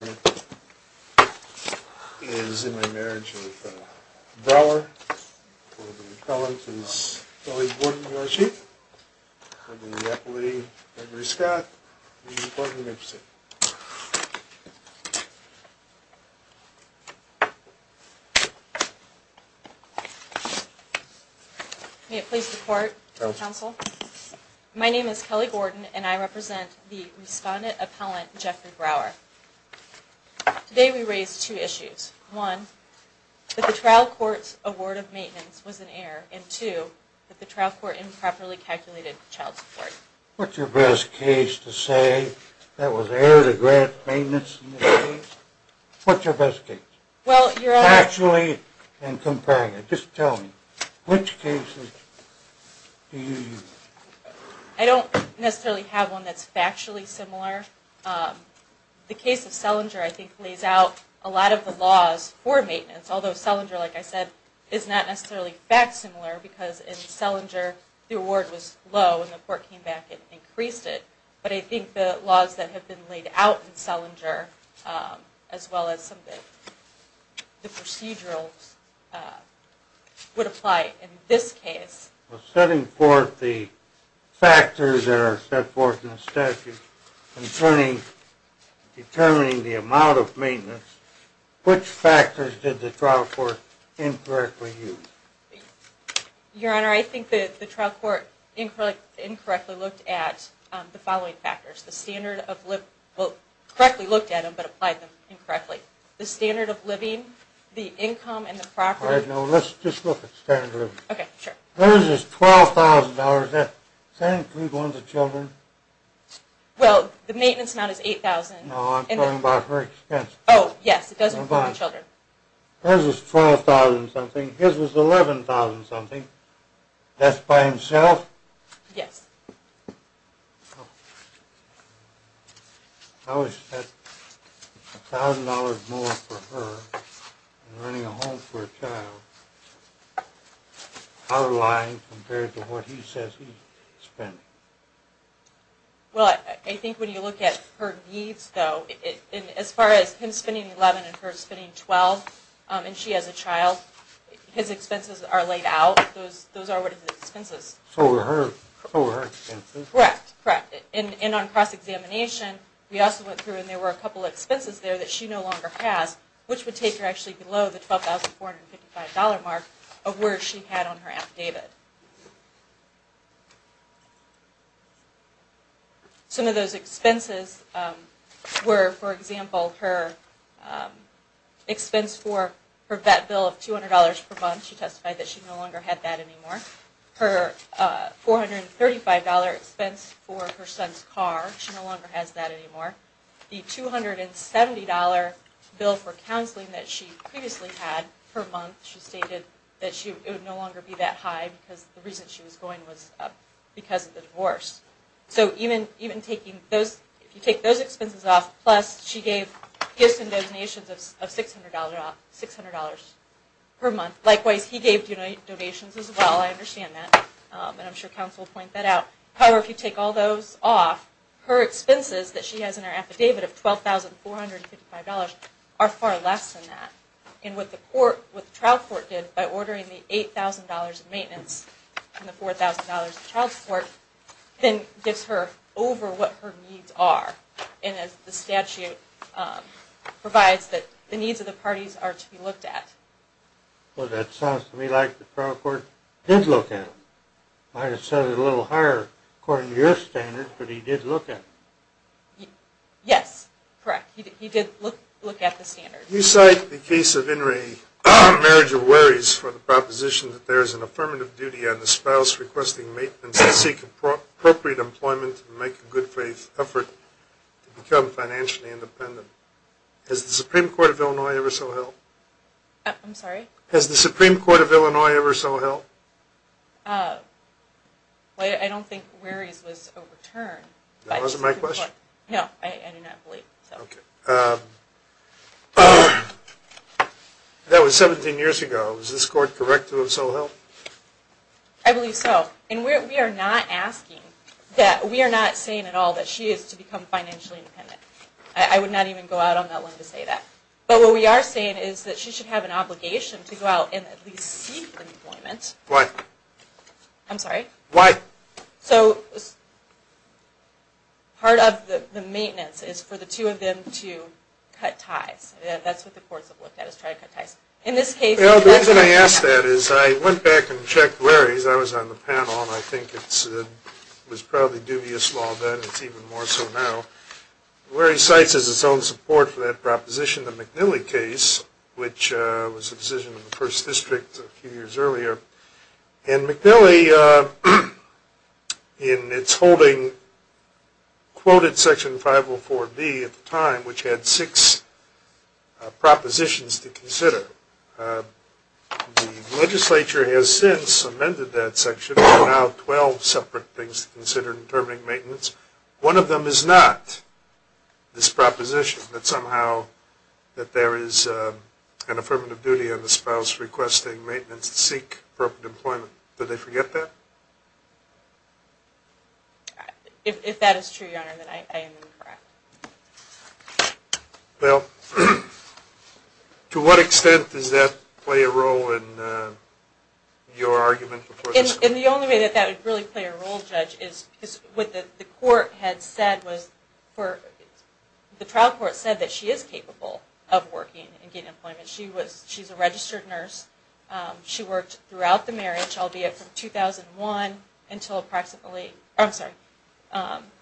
for the Appellant is Kelly Gordon, U.S. Chief, under the Appellate Gregory Scott, the Court of the Mipson. May it please the Court, Counsel. My name is Kelly Gordon and I represent the Respondent Appellant Jeffrey Brower. Today we raise two issues. One, that the trial court's award of maintenance was an error. And two, that the trial court improperly calculated child support. What's your best case to say that was error to grant maintenance in this case? What's your best case? Well, your... Actually and comparing it. Just tell me, which cases do you use? I don't necessarily have one that's factually similar. The case of Selinger, I think, lays out a lot of the laws for maintenance. Although Selinger, like I said, is not necessarily fact similar because in Selinger the award was low and the court came back and increased it. But I think the laws that have been laid out in Selinger, as well as some of the procedurals, would apply in this case. Setting forth the factors that are set forth in the statute, determining the amount of maintenance, which factors did the trial court incorrectly use? Your Honor, I think that the trial court incorrectly looked at the following factors. The standard of living, well, correctly looked at them but applied them incorrectly. The standard of living, the income and the property. All right, now let's just look at standard of living. Okay, sure. Hers is $12,000. Does that include one of the children? Well, the maintenance amount is $8,000. No, I'm talking about her expense. Oh, yes, it does include the children. Hers was $12,000 and something. His was $11,000 and something. That's by himself? Yes. How is that $1,000 more for her and running a home for a child? How reliant compared to what he says he's spending? Well, I think when you look at her needs, though, as far as him spending $11,000 and her spending $12,000, and she has a child, his expenses are laid out. Those are what his expenses are. So were hers. Correct, correct. And on cross-examination, we also went through and there were a couple of expenses there that she no longer has, which would take her actually below the $12,455 mark of where she had on her app, David. Some of those expenses were, for example, her expense for her vet bill of $200 per month. She testified that she no longer had that anymore. Her $435 expense for her son's car, she no longer has that anymore. The $270 bill for counseling that she previously had per month, she stated that it would no longer be that high because the reason she was going was because of the divorce. So if you take those expenses off, plus she gave gifts and donations of $600 per month. Likewise, he gave donations as well. I understand that. And I'm sure Council will point that out. However, if you take all those off, her expenses that she has in her affidavit of $12,455 are far less than that. And what the trial court did by ordering the $8,000 in maintenance and the $4,000 in child support, then gives her over what her needs are. And the statute provides that the needs of the parties are to be looked at. Well, that sounds to me like the trial court did look at them. Might have set it a little higher according to your standard, but he did look at them. Yes, correct. He did look at the standards. You cite the case of In re Marriage of Worries for the proposition that there is an affirmative duty on the spouse requesting maintenance to seek appropriate employment and make a good faith effort to become financially independent. Has the Supreme Court of Illinois ever so held? I'm sorry? Has the Supreme Court of Illinois ever so held? I don't think Worries was overturned. That wasn't my question? No, I do not believe so. Okay. That was 17 years ago. Is this court correct to have so held? I believe so. And we are not asking, we are not saying at all that she is to become financially independent. I would not even go out on that one to say that. But what we are saying is that she should have an obligation to go out and at least seek employment. Why? I'm sorry? Why? So part of the maintenance is for the two of them to cut ties. That's what the courts have looked at, is try to cut ties. Well, the reason I ask that is I went back and checked Worries. I was on the panel and I think it was probably dubious law then. It's even more so now. Worries cites as its own support for that proposition the McNeely case, which was a decision of the first district a few years earlier. And McNeely, in its holding, quoted Section 504B at the time, which had six propositions to consider. The legislature has since amended that section. There are now 12 separate things to consider in determining maintenance. One of them is not this proposition that somehow there is an affirmative duty on the spouse requesting maintenance to seek appropriate employment. Did they forget that? If that is true, Your Honor, then I am incorrect. Well, to what extent does that play a role in your argument? The only way that that would really play a role, Judge, is what the court had said. The trial court said that she is capable of working and getting employment. She's a registered nurse. She worked throughout the marriage, albeit from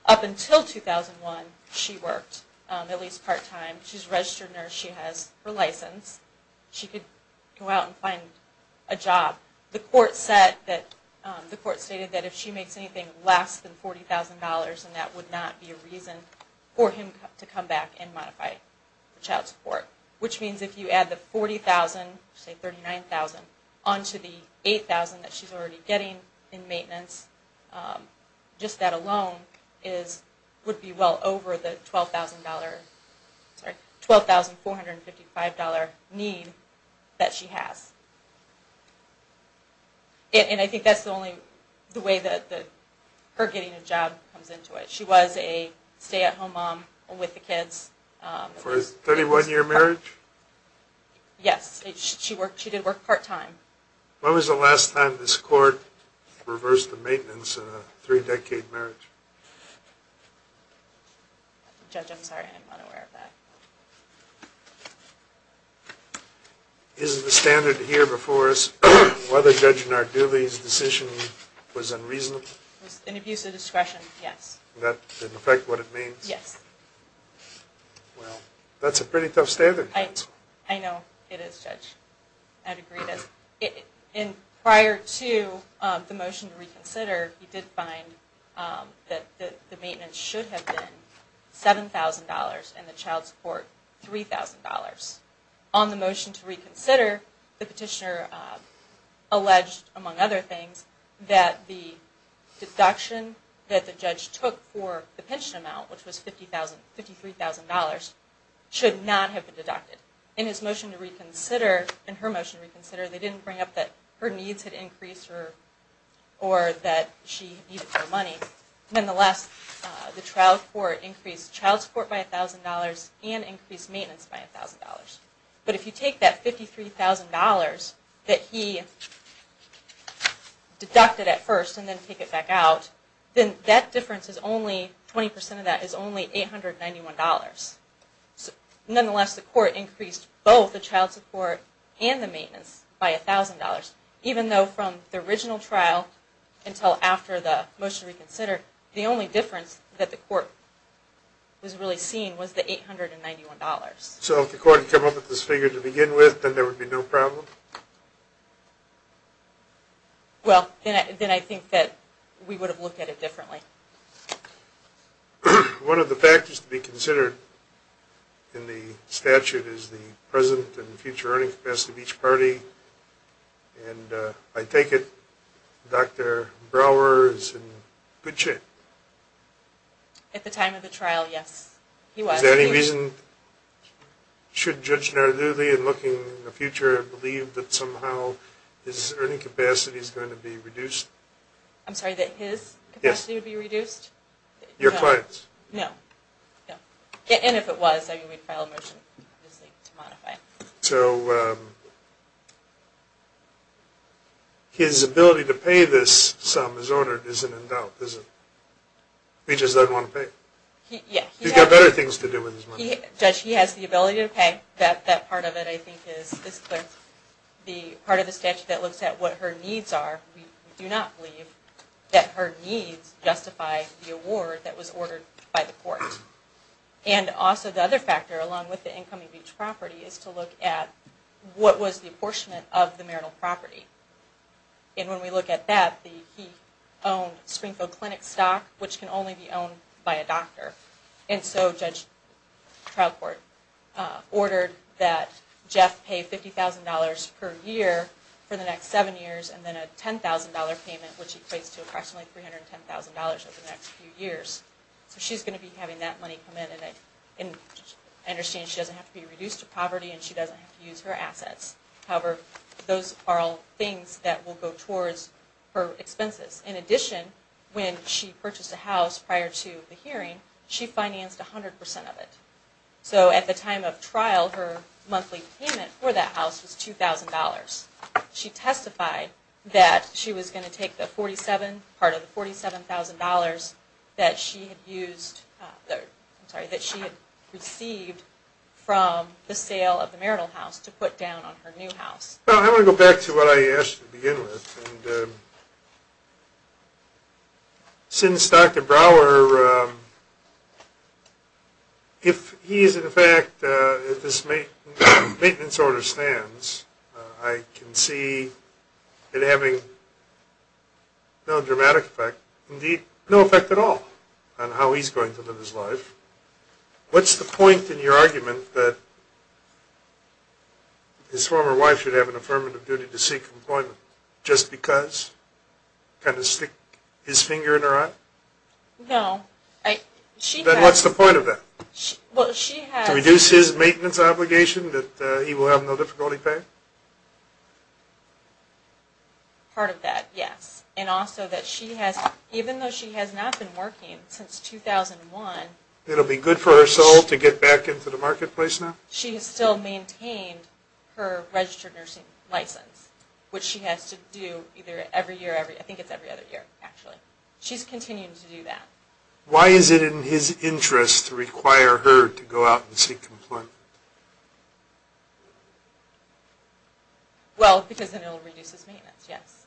up until 2001, she worked at least part-time. She's a registered nurse. She has her license. She could go out and find a job. The court stated that if she makes anything less than $40,000, then that would not be a reason for him to come back and modify child support. Which means if you add the $40,000, say $39,000, onto the $8,000 that she's already getting in maintenance, just that alone would be well over the $12,455 need that she has. And I think that's the only way that her getting a job comes into it. She was a stay-at-home mom with the kids. For a 31-year marriage? Yes. She did work part-time. When was the last time this court reversed the maintenance of a three-decade marriage? Judge, I'm sorry. I'm not aware of that. Is the standard here before us whether Judge Narduli's decision was unreasonable? It was an abuse of discretion, yes. That didn't affect what it means? Yes. Well, that's a pretty tough standard. I know it is, Judge. I'd agree with this. Prior to the motion to reconsider, he did find that the maintenance should have been $7,000 and the child support $3,000. On the motion to reconsider, the petitioner alleged, among other things, that the deduction that the judge took for the pension amount, which was $53,000, should not have been deducted. In his motion to reconsider, in her motion to reconsider, they didn't bring up that her needs had increased or that she needed more money. Nonetheless, the trial court increased child support by $1,000 and increased maintenance by $1,000. But if you take that $53,000 that he deducted at first and then take it back out, then that difference is only, 20% of that is only $891. Nonetheless, the court increased both the child support and the maintenance by $1,000, even though from the original trial until after the motion to reconsider, the only difference that the court was really seeing was the $891. So if the court had come up with this figure to begin with, then there would be no problem? Well, then I think that we would have looked at it differently. One of the factors to be considered in the statute is the present and future earning capacity of each party. And I take it Dr. Brower is in good shape? At the time of the trial, yes, he was. Is there any reason, should Judge Nardulli, in looking in the future, I'm sorry, that his capacity would be reduced? Your clients? No. And if it was, I mean, we'd file a motion to modify it. So his ability to pay this sum as ordered isn't in doubt, is it? He just doesn't want to pay? Yeah. He's got better things to do with his money. Judge, he has the ability to pay. That part of it, I think, is clear. The part of the statute that looks at what her needs are, we do not believe that her needs justify the award that was ordered by the court. And also the other factor, along with the incoming beach property, is to look at what was the apportionment of the marital property. And when we look at that, he owned Springfield Clinic stock, which can only be owned by a doctor. And so Judge Troutcourt ordered that Jeff pay $50,000 per year for the next seven years, and then a $10,000 payment, which equates to approximately $310,000 over the next few years. So she's going to be having that money come in, and I understand she doesn't have to be reduced to poverty and she doesn't have to use her assets. However, those are all things that will go towards her expenses. In addition, when she purchased a house prior to the hearing, she financed 100% of it. So at the time of trial, her monthly payment for that house was $2,000. She testified that she was going to take part of the $47,000 that she had received from the sale of the marital house to put down on her new house. Well, I want to go back to what I asked to begin with. Since Dr. Brower, if he is in fact, if this maintenance order stands, I can see it having no dramatic effect, indeed no effect at all, on how he's going to live his life. What's the point in your argument that his former wife should have an affirmative duty to seek employment just because? Kind of stick his finger in her eye? No. Then what's the point of that? To reduce his maintenance obligation that he will have no difficulty paying? Part of that, yes. And also that she has, even though she has not been working since 2001. It will be good for her soul to get back into the marketplace now? She has still maintained her registered nursing license, which she has to do either every year or every, I think it's every other year actually. She's continuing to do that. Why is it in his interest to require her to go out and seek employment? Well, because then it will reduce his maintenance, yes.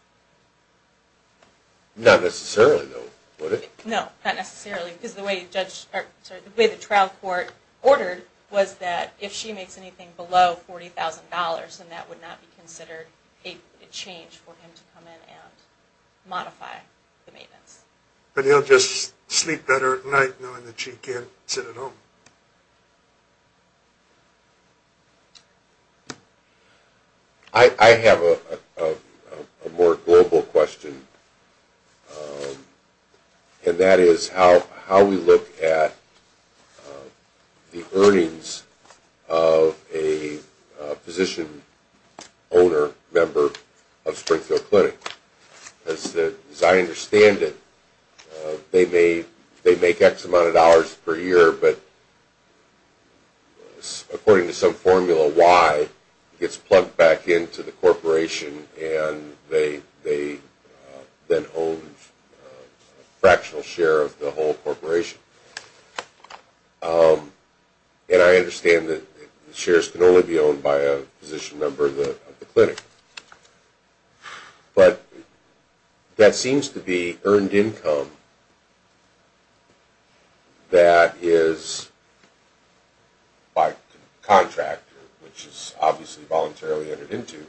Not necessarily, though, would it? No, not necessarily, because the way the trial court ordered was that if she makes anything below $40,000, then that would not be considered a change for him to come in and modify the maintenance. But he'll just sleep better at night knowing that she can't sit at home. I have a more global question, and that is how we look at the earnings of a physician owner, member of Springfield Clinic. As I understand it, they make X amount of dollars per year, but according to some formula Y gets plugged back into the corporation and they then own a fractional share of the whole corporation. And I understand that the shares can only be owned by a physician member of the clinic. But that seems to be earned income that is, by contractor, which is obviously voluntarily entered into,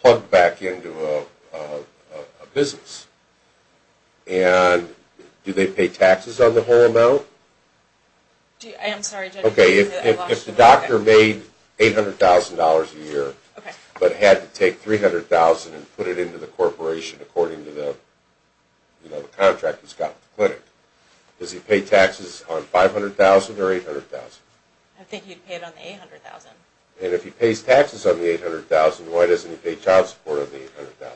plugged back into a business. And do they pay taxes on the whole amount? I'm sorry. If the doctor made $800,000 a year, but had to take $300,000 and put it into the corporation according to the contract he's got with the clinic, does he pay taxes on $500,000 or $800,000? I think he'd pay it on the $800,000. And if he pays taxes on the $800,000, why doesn't he pay child support on the $800,000?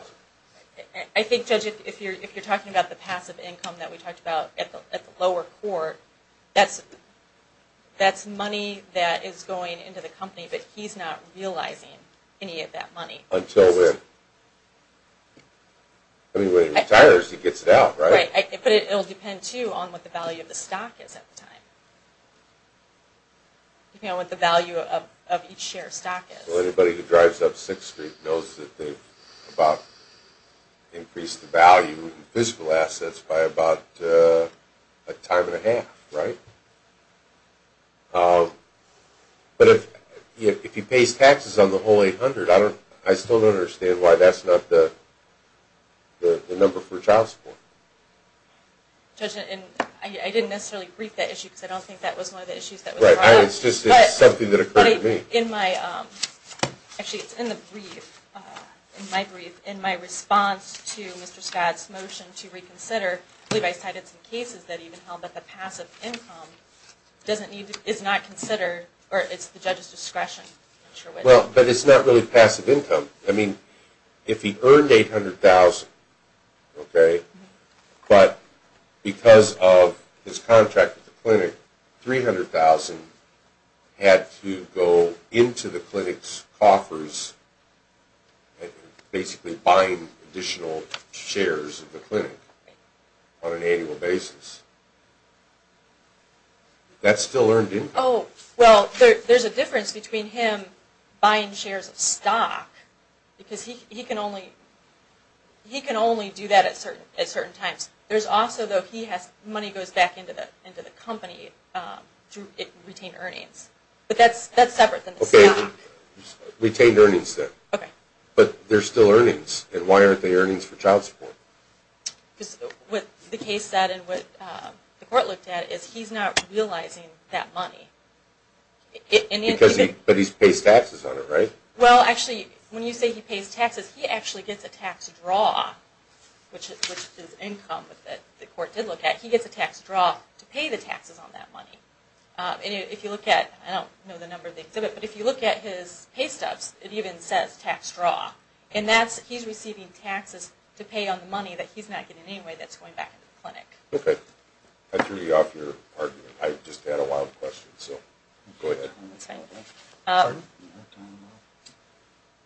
I think, Judge, if you're talking about the passive income that we talked about at the lower court, that's money that is going into the company, but he's not realizing any of that money. Until when? I mean, when he retires he gets it out, right? Right. But it will depend, too, on what the value of the stock is at the time. You know, what the value of each share of stock is. Well, anybody who drives up 6th Street knows that they've about increased the value of physical assets by about a time and a half, right? But if he pays taxes on the whole $800,000, I still don't understand why that's not the number for child support. Judge, I didn't necessarily brief that issue because I don't think that was one of the issues that was brought up. Right, it's just something that occurred to me. Actually, it's in my brief. In my response to Mr. Scott's motion to reconsider, I believe I cited some cases that even held that the passive income is not considered, or it's at the judge's discretion. Well, but it's not really passive income. I mean, if he earned $800,000, okay, but because of his contract at the clinic, $300,000 had to go into the clinic's coffers and basically bind additional shares of the clinic on an annual basis. That still earned income. Oh, well, there's a difference between him buying shares of stock because he can only do that at certain times. There's also, though, he has money goes back into the company to retain earnings. But that's separate than the stock. Okay, retained earnings then. Okay. But there's still earnings, and why aren't they earnings for child support? Because what the case said and what the court looked at is he's not realizing that money. But he pays taxes on it, right? Well, actually, when you say he pays taxes, he actually gets a tax draw, which is income that the court did look at. He gets a tax draw to pay the taxes on that money. And if you look at, I don't know the number of the exhibit, but if you look at his paystubs, it even says tax draw. And that's he's receiving taxes to pay on the money that he's not getting anyway that's going back into the clinic. Okay. I threw you off your argument. I just had a lot of questions, so go ahead. That's fine with me. Pardon? I don't know.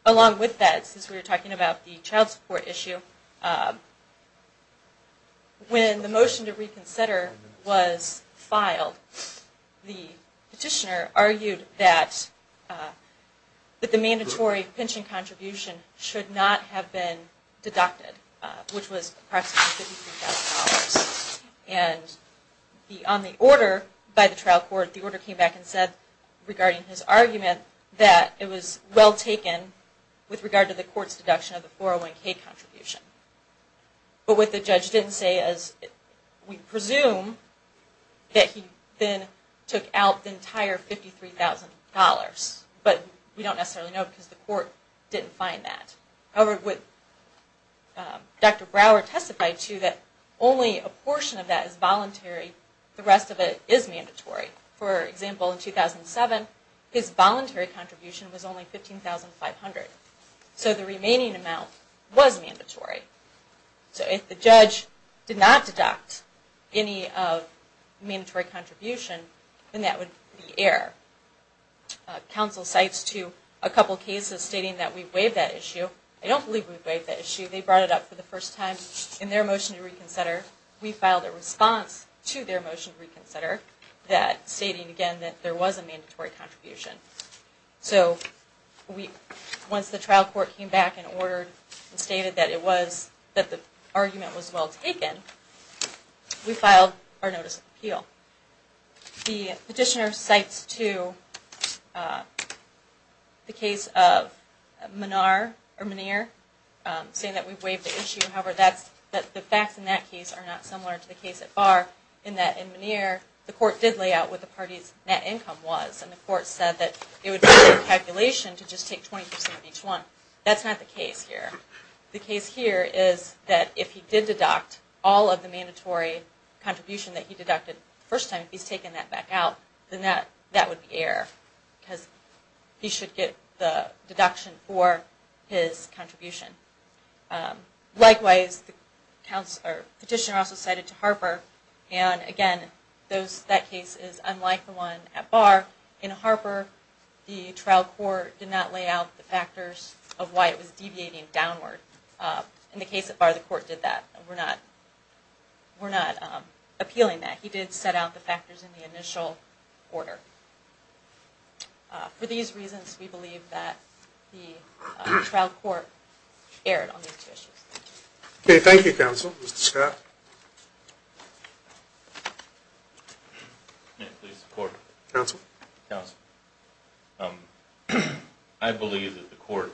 Along with that, since we were talking about the child support issue, when the motion to reconsider was filed, the petitioner argued that the mandatory pension contribution should not have been deducted, which was approximately $53,000. And on the order by the trial court, the order came back and said regarding his argument that it was well taken with regard to the court's deduction of the 401K contribution. But what the judge didn't say is we presume that he then took out the entire $53,000, but we don't necessarily know because the court didn't find that. However, what Dr. Brower testified to, that only a portion of that is voluntary, the rest of it is mandatory. For example, in 2007, his voluntary contribution was only $15,500. So the remaining amount was mandatory. So if the judge did not deduct any mandatory contribution, then that would be error. Counsel cites to a couple cases stating that we waived that issue. I don't believe we waived that issue. They brought it up for the first time in their motion to reconsider. We filed a response to their motion to reconsider stating, again, that there was a mandatory contribution. So once the trial court came back and ordered and stated that the argument was well taken, we filed our notice of appeal. The petitioner cites to the case of Menard or Meniere, saying that we waived the issue. However, the facts in that case are not similar to the case at Barr, in that in Meniere, the court did lay out what the party's net income was, and the court said that it would be a calculation to just take 20% of each one. That's not the case here. The case here is that if he did deduct all of the mandatory contribution that he deducted the first time, if he's taken that back out, then that would be error because he should get the deduction for his contribution. Likewise, the petitioner also cited to Harper, and again, that case is unlike the one at Barr. In Harper, the trial court did not lay out the factors of why it was deviating downward. In the case at Barr, the court did that. We're not appealing that. He did set out the factors in the initial order. For these reasons, we believe that the trial court erred on these two issues. Okay. Thank you, counsel. Mr. Scott. Counsel? Counsel. I believe that the court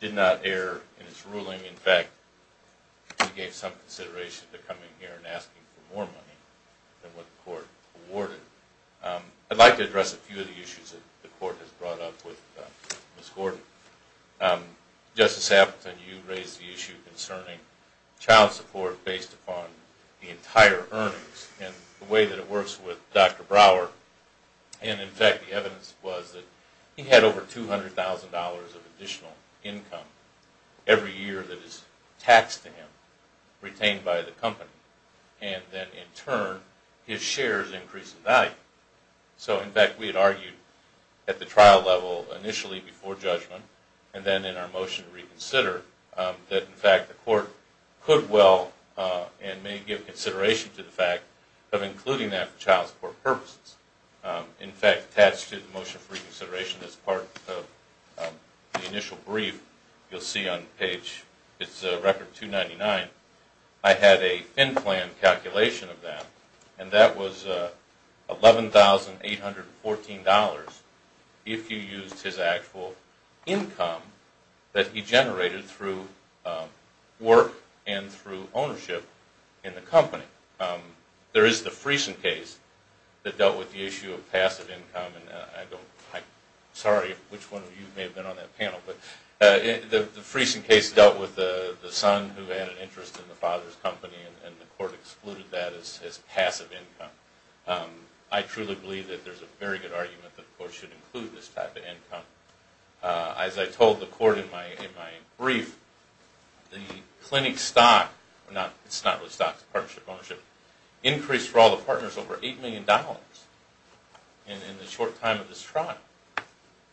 did not err in its ruling. In fact, we gave some consideration to coming here and asking for more money than what the court awarded. I'd like to address a few of the issues that the court has brought up with Ms. Gordon. Justice Appleton, you raised the issue concerning child support based upon the entire earnings and the way that it works with Dr. Brower. In fact, the evidence was that he had over $200,000 of additional income every year that is taxed to him, retained by the company. Then, in turn, his shares increase in value. In fact, we had argued at the trial level initially before judgment and then in our motion to reconsider that, in fact, the court could well and may give consideration to the fact of including that for child support purposes. In fact, attached to the motion for reconsideration as part of the initial brief you'll see on page, it's record 299, I had a in-plan calculation of that and that was $11,814 if you used his actual income that he generated through work and through ownership in the company. There is the Friesen case that dealt with the issue of passive income. Sorry, which one of you may have been on that panel, but the Friesen case dealt with the son who had an interest in the father's company and the court excluded that as passive income. I truly believe that there's a very good argument that the court should include this type of income. As I told the court in my brief, the clinic stock, it's not really stock, it's partnership ownership, increased for all the partners over $8 million in the short time of this trial.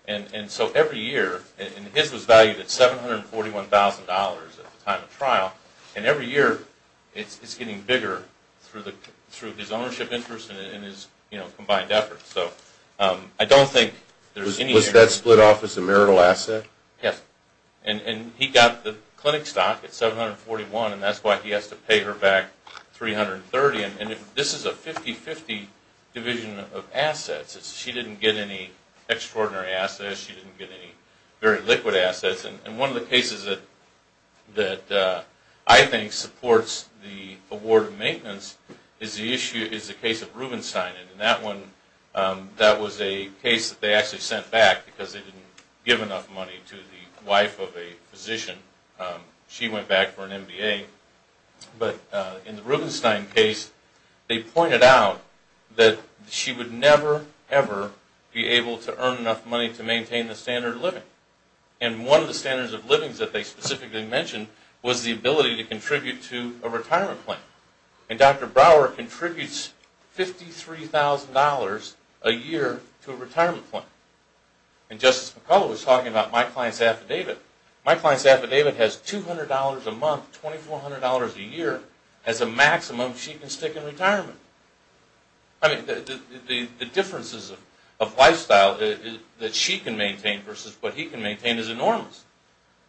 Every year, and his was valued at $741,000 at the time of trial, and every year it's getting bigger through his ownership interest and his combined efforts. I don't think there's any... Was that split off as a marital asset? Yes. He got the clinic stock at $741,000 and that's why he has to pay her back $330,000. This is a 50-50 division of assets. She didn't get any extraordinary assets. She didn't get any very liquid assets. One of the cases that I think supports the award of maintenance is the case of Rubenstein. That was a case that they actually sent back because they didn't give enough money to the wife of a physician. She went back for an MBA. In the Rubenstein case, they pointed out that she would never, ever be able to earn enough money to maintain the standard of living. One of the standards of living that they specifically mentioned was the ability to contribute to a retirement plan. Dr. Brower contributes $53,000 a year to a retirement plan. Justice McCullough was talking about my client's affidavit. My client's affidavit has $200 a month, $2,400 a year as a maximum she can stick in retirement. The differences of lifestyle that she can maintain versus what he can maintain is enormous.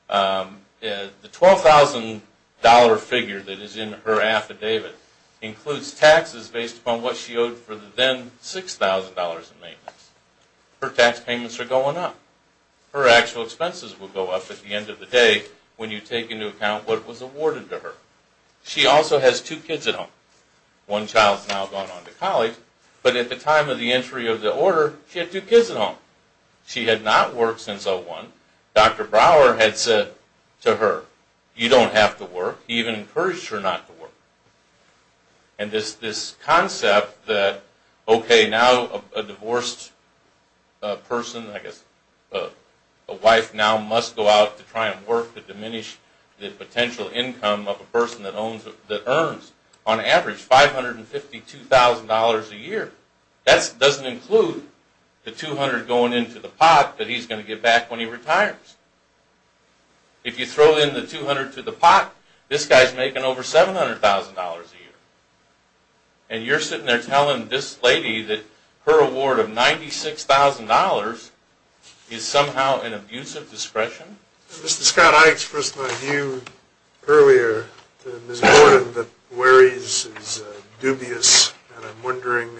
The $12,000 figure that is in her affidavit includes taxes based upon what she owed for the then $6,000 in maintenance. Her tax payments are going up. Her actual expenses will go up at the end of the day when you take into account what was awarded to her. She also has two kids at home. One child has now gone on to college, but at the time of the entry of the order, she had two kids at home. She had not worked since 01. Dr. Brower had said to her, you don't have to work. He even encouraged her not to work. This concept that, okay, now a divorced person, I guess a wife now must go out to try and work to diminish the potential income of a person that earns, on average, $552,000 a year. That doesn't include the $200 going into the pot that he's going to get back when he retires. If you throw in the $200 to the pot, this guy is making over $700,000 a year, and you're sitting there telling this lady that her award of $96,000 is somehow an abuse of discretion? Mr. Scott, I expressed my view earlier to Ms. Warren that Wary's is dubious, and I'm wondering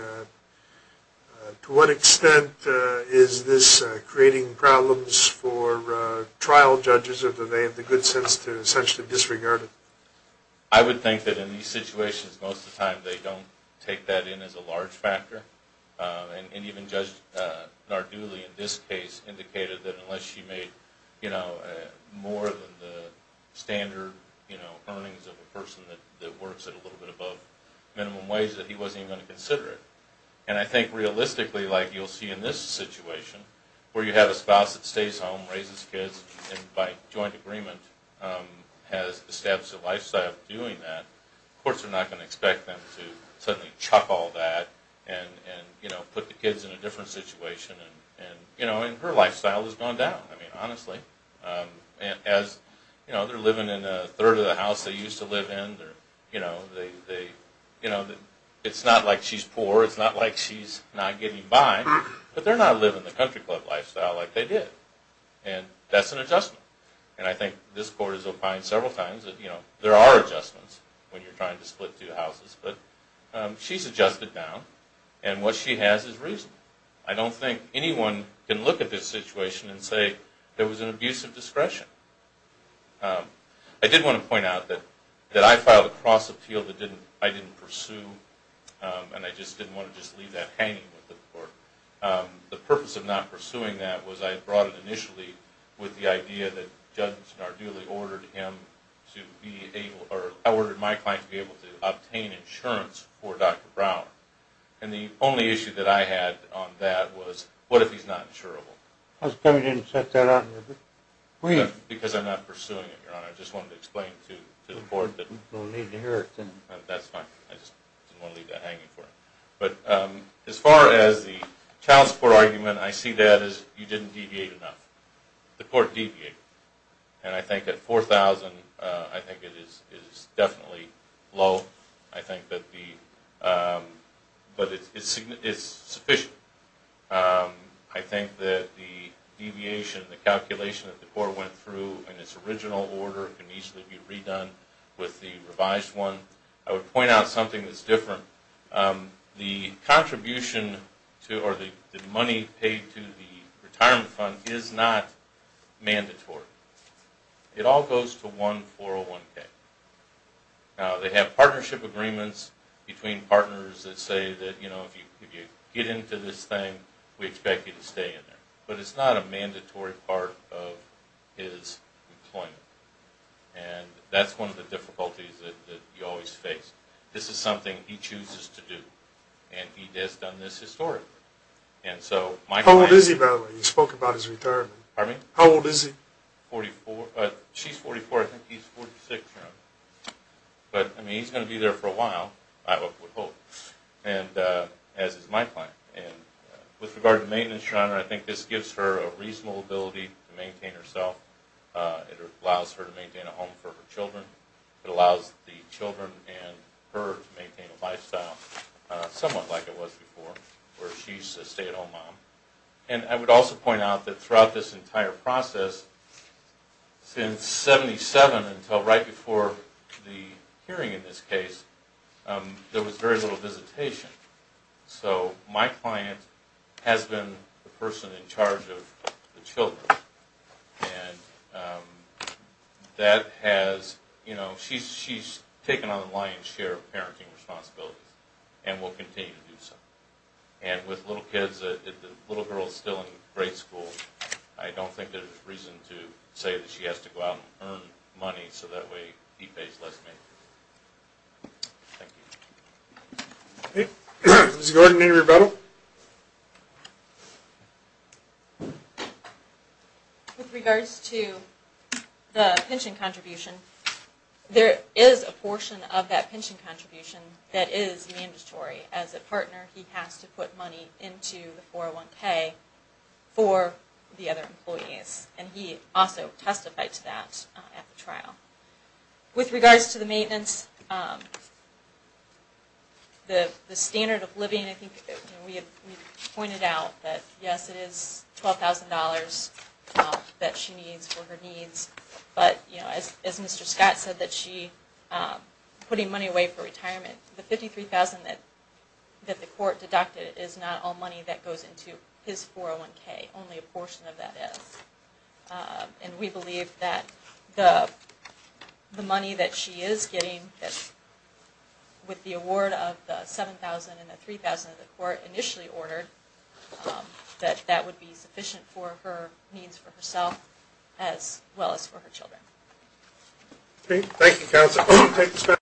to what extent is this creating problems for trial judges, or do they have the good sense to essentially disregard it? I would think that in these situations, most of the time, they don't take that in as a large factor. And even Judge Nardulli in this case indicated that unless she made more than the standard earnings of a person that works at a little bit above minimum wage that he wasn't even going to consider it. And I think realistically, like you'll see in this situation, where you have a spouse that stays home, raises kids, and by joint agreement has established a lifestyle of doing that, courts are not going to expect them to suddenly chuck all that and put the kids in a different situation. And her lifestyle has gone down, I mean, honestly. As they're living in a third of the house they used to live in, it's not like she's poor, it's not like she's not getting by, but they're not living the country club lifestyle like they did. And that's an adjustment. And I think this court has opined several times that there are adjustments when you're trying to split two houses, but she's adjusted down, and what she has is reason. I don't think anyone can look at this situation and say there was an abuse of discretion. I did want to point out that I filed a cross appeal that I didn't pursue, and I just didn't want to just leave that hanging with the court. The purpose of not pursuing that was I brought it initially with the idea that Judge Nardulli ordered my client to be able to obtain insurance for Dr. Brown. And the only issue that I had on that was what if he's not insurable? I was going to set that up. Because I'm not pursuing it, Your Honor. I just wanted to explain it to the court. You don't need to hear it then. That's fine. I just didn't want to leave that hanging for him. But as far as the child support argument, I see that as you didn't deviate enough. The court deviated. And I think at $4,000 I think it is definitely low. I think that the – but it's sufficient. I think that the deviation, the calculation that the court went through in its original order can easily be redone with the revised one. I would point out something that's different. The contribution or the money paid to the retirement fund is not mandatory. It all goes to one 401K. Now, they have partnership agreements between partners that say that, you know, if you get into this thing, we expect you to stay in there. But it's not a mandatory part of his employment. And that's one of the difficulties that you always face. This is something he chooses to do, and he has done this historically. How old is he, by the way? You spoke about his retirement. Pardon me? How old is he? She's 44. I think he's 46. But, I mean, he's going to be there for a while, I would hope, as is my plan. And with regard to maintenance, I think this gives her a reasonable ability to maintain herself. It allows her to maintain a home for her children. It allows the children and her to maintain a lifestyle somewhat like it was before, where she's a stay-at-home mom. And I would also point out that throughout this entire process, since 77 until right before the hearing in this case, there was very little visitation. So my client has been the person in charge of the children. And that has, you know, she's taken on a lion's share of parenting responsibilities and will continue to do so. And with little kids, the little girl is still in grade school. I don't think there's reason to say that she has to go out and earn money so that way he pays less maintenance. Thank you. Okay. Ms. Gordon, any rebuttal? With regards to the pension contribution, there is a portion of that pension contribution that is mandatory. As a partner, he has to put money into the 401K for the other employees. And he also testified to that at the trial. With regards to the maintenance, the standard of living, I think we pointed out that, yes, it is $12,000 that she needs for her needs. But, you know, as Mr. Scott said, that she's putting money away for retirement, the $53,000 that the court deducted is not all money that goes into his 401K. Only a portion of that is. And we believe that the money that she is getting with the award of the $7,000 and the $3,000 that the court initially ordered, that that would be sufficient for her needs for herself as well as for her children. Thank you, counsel.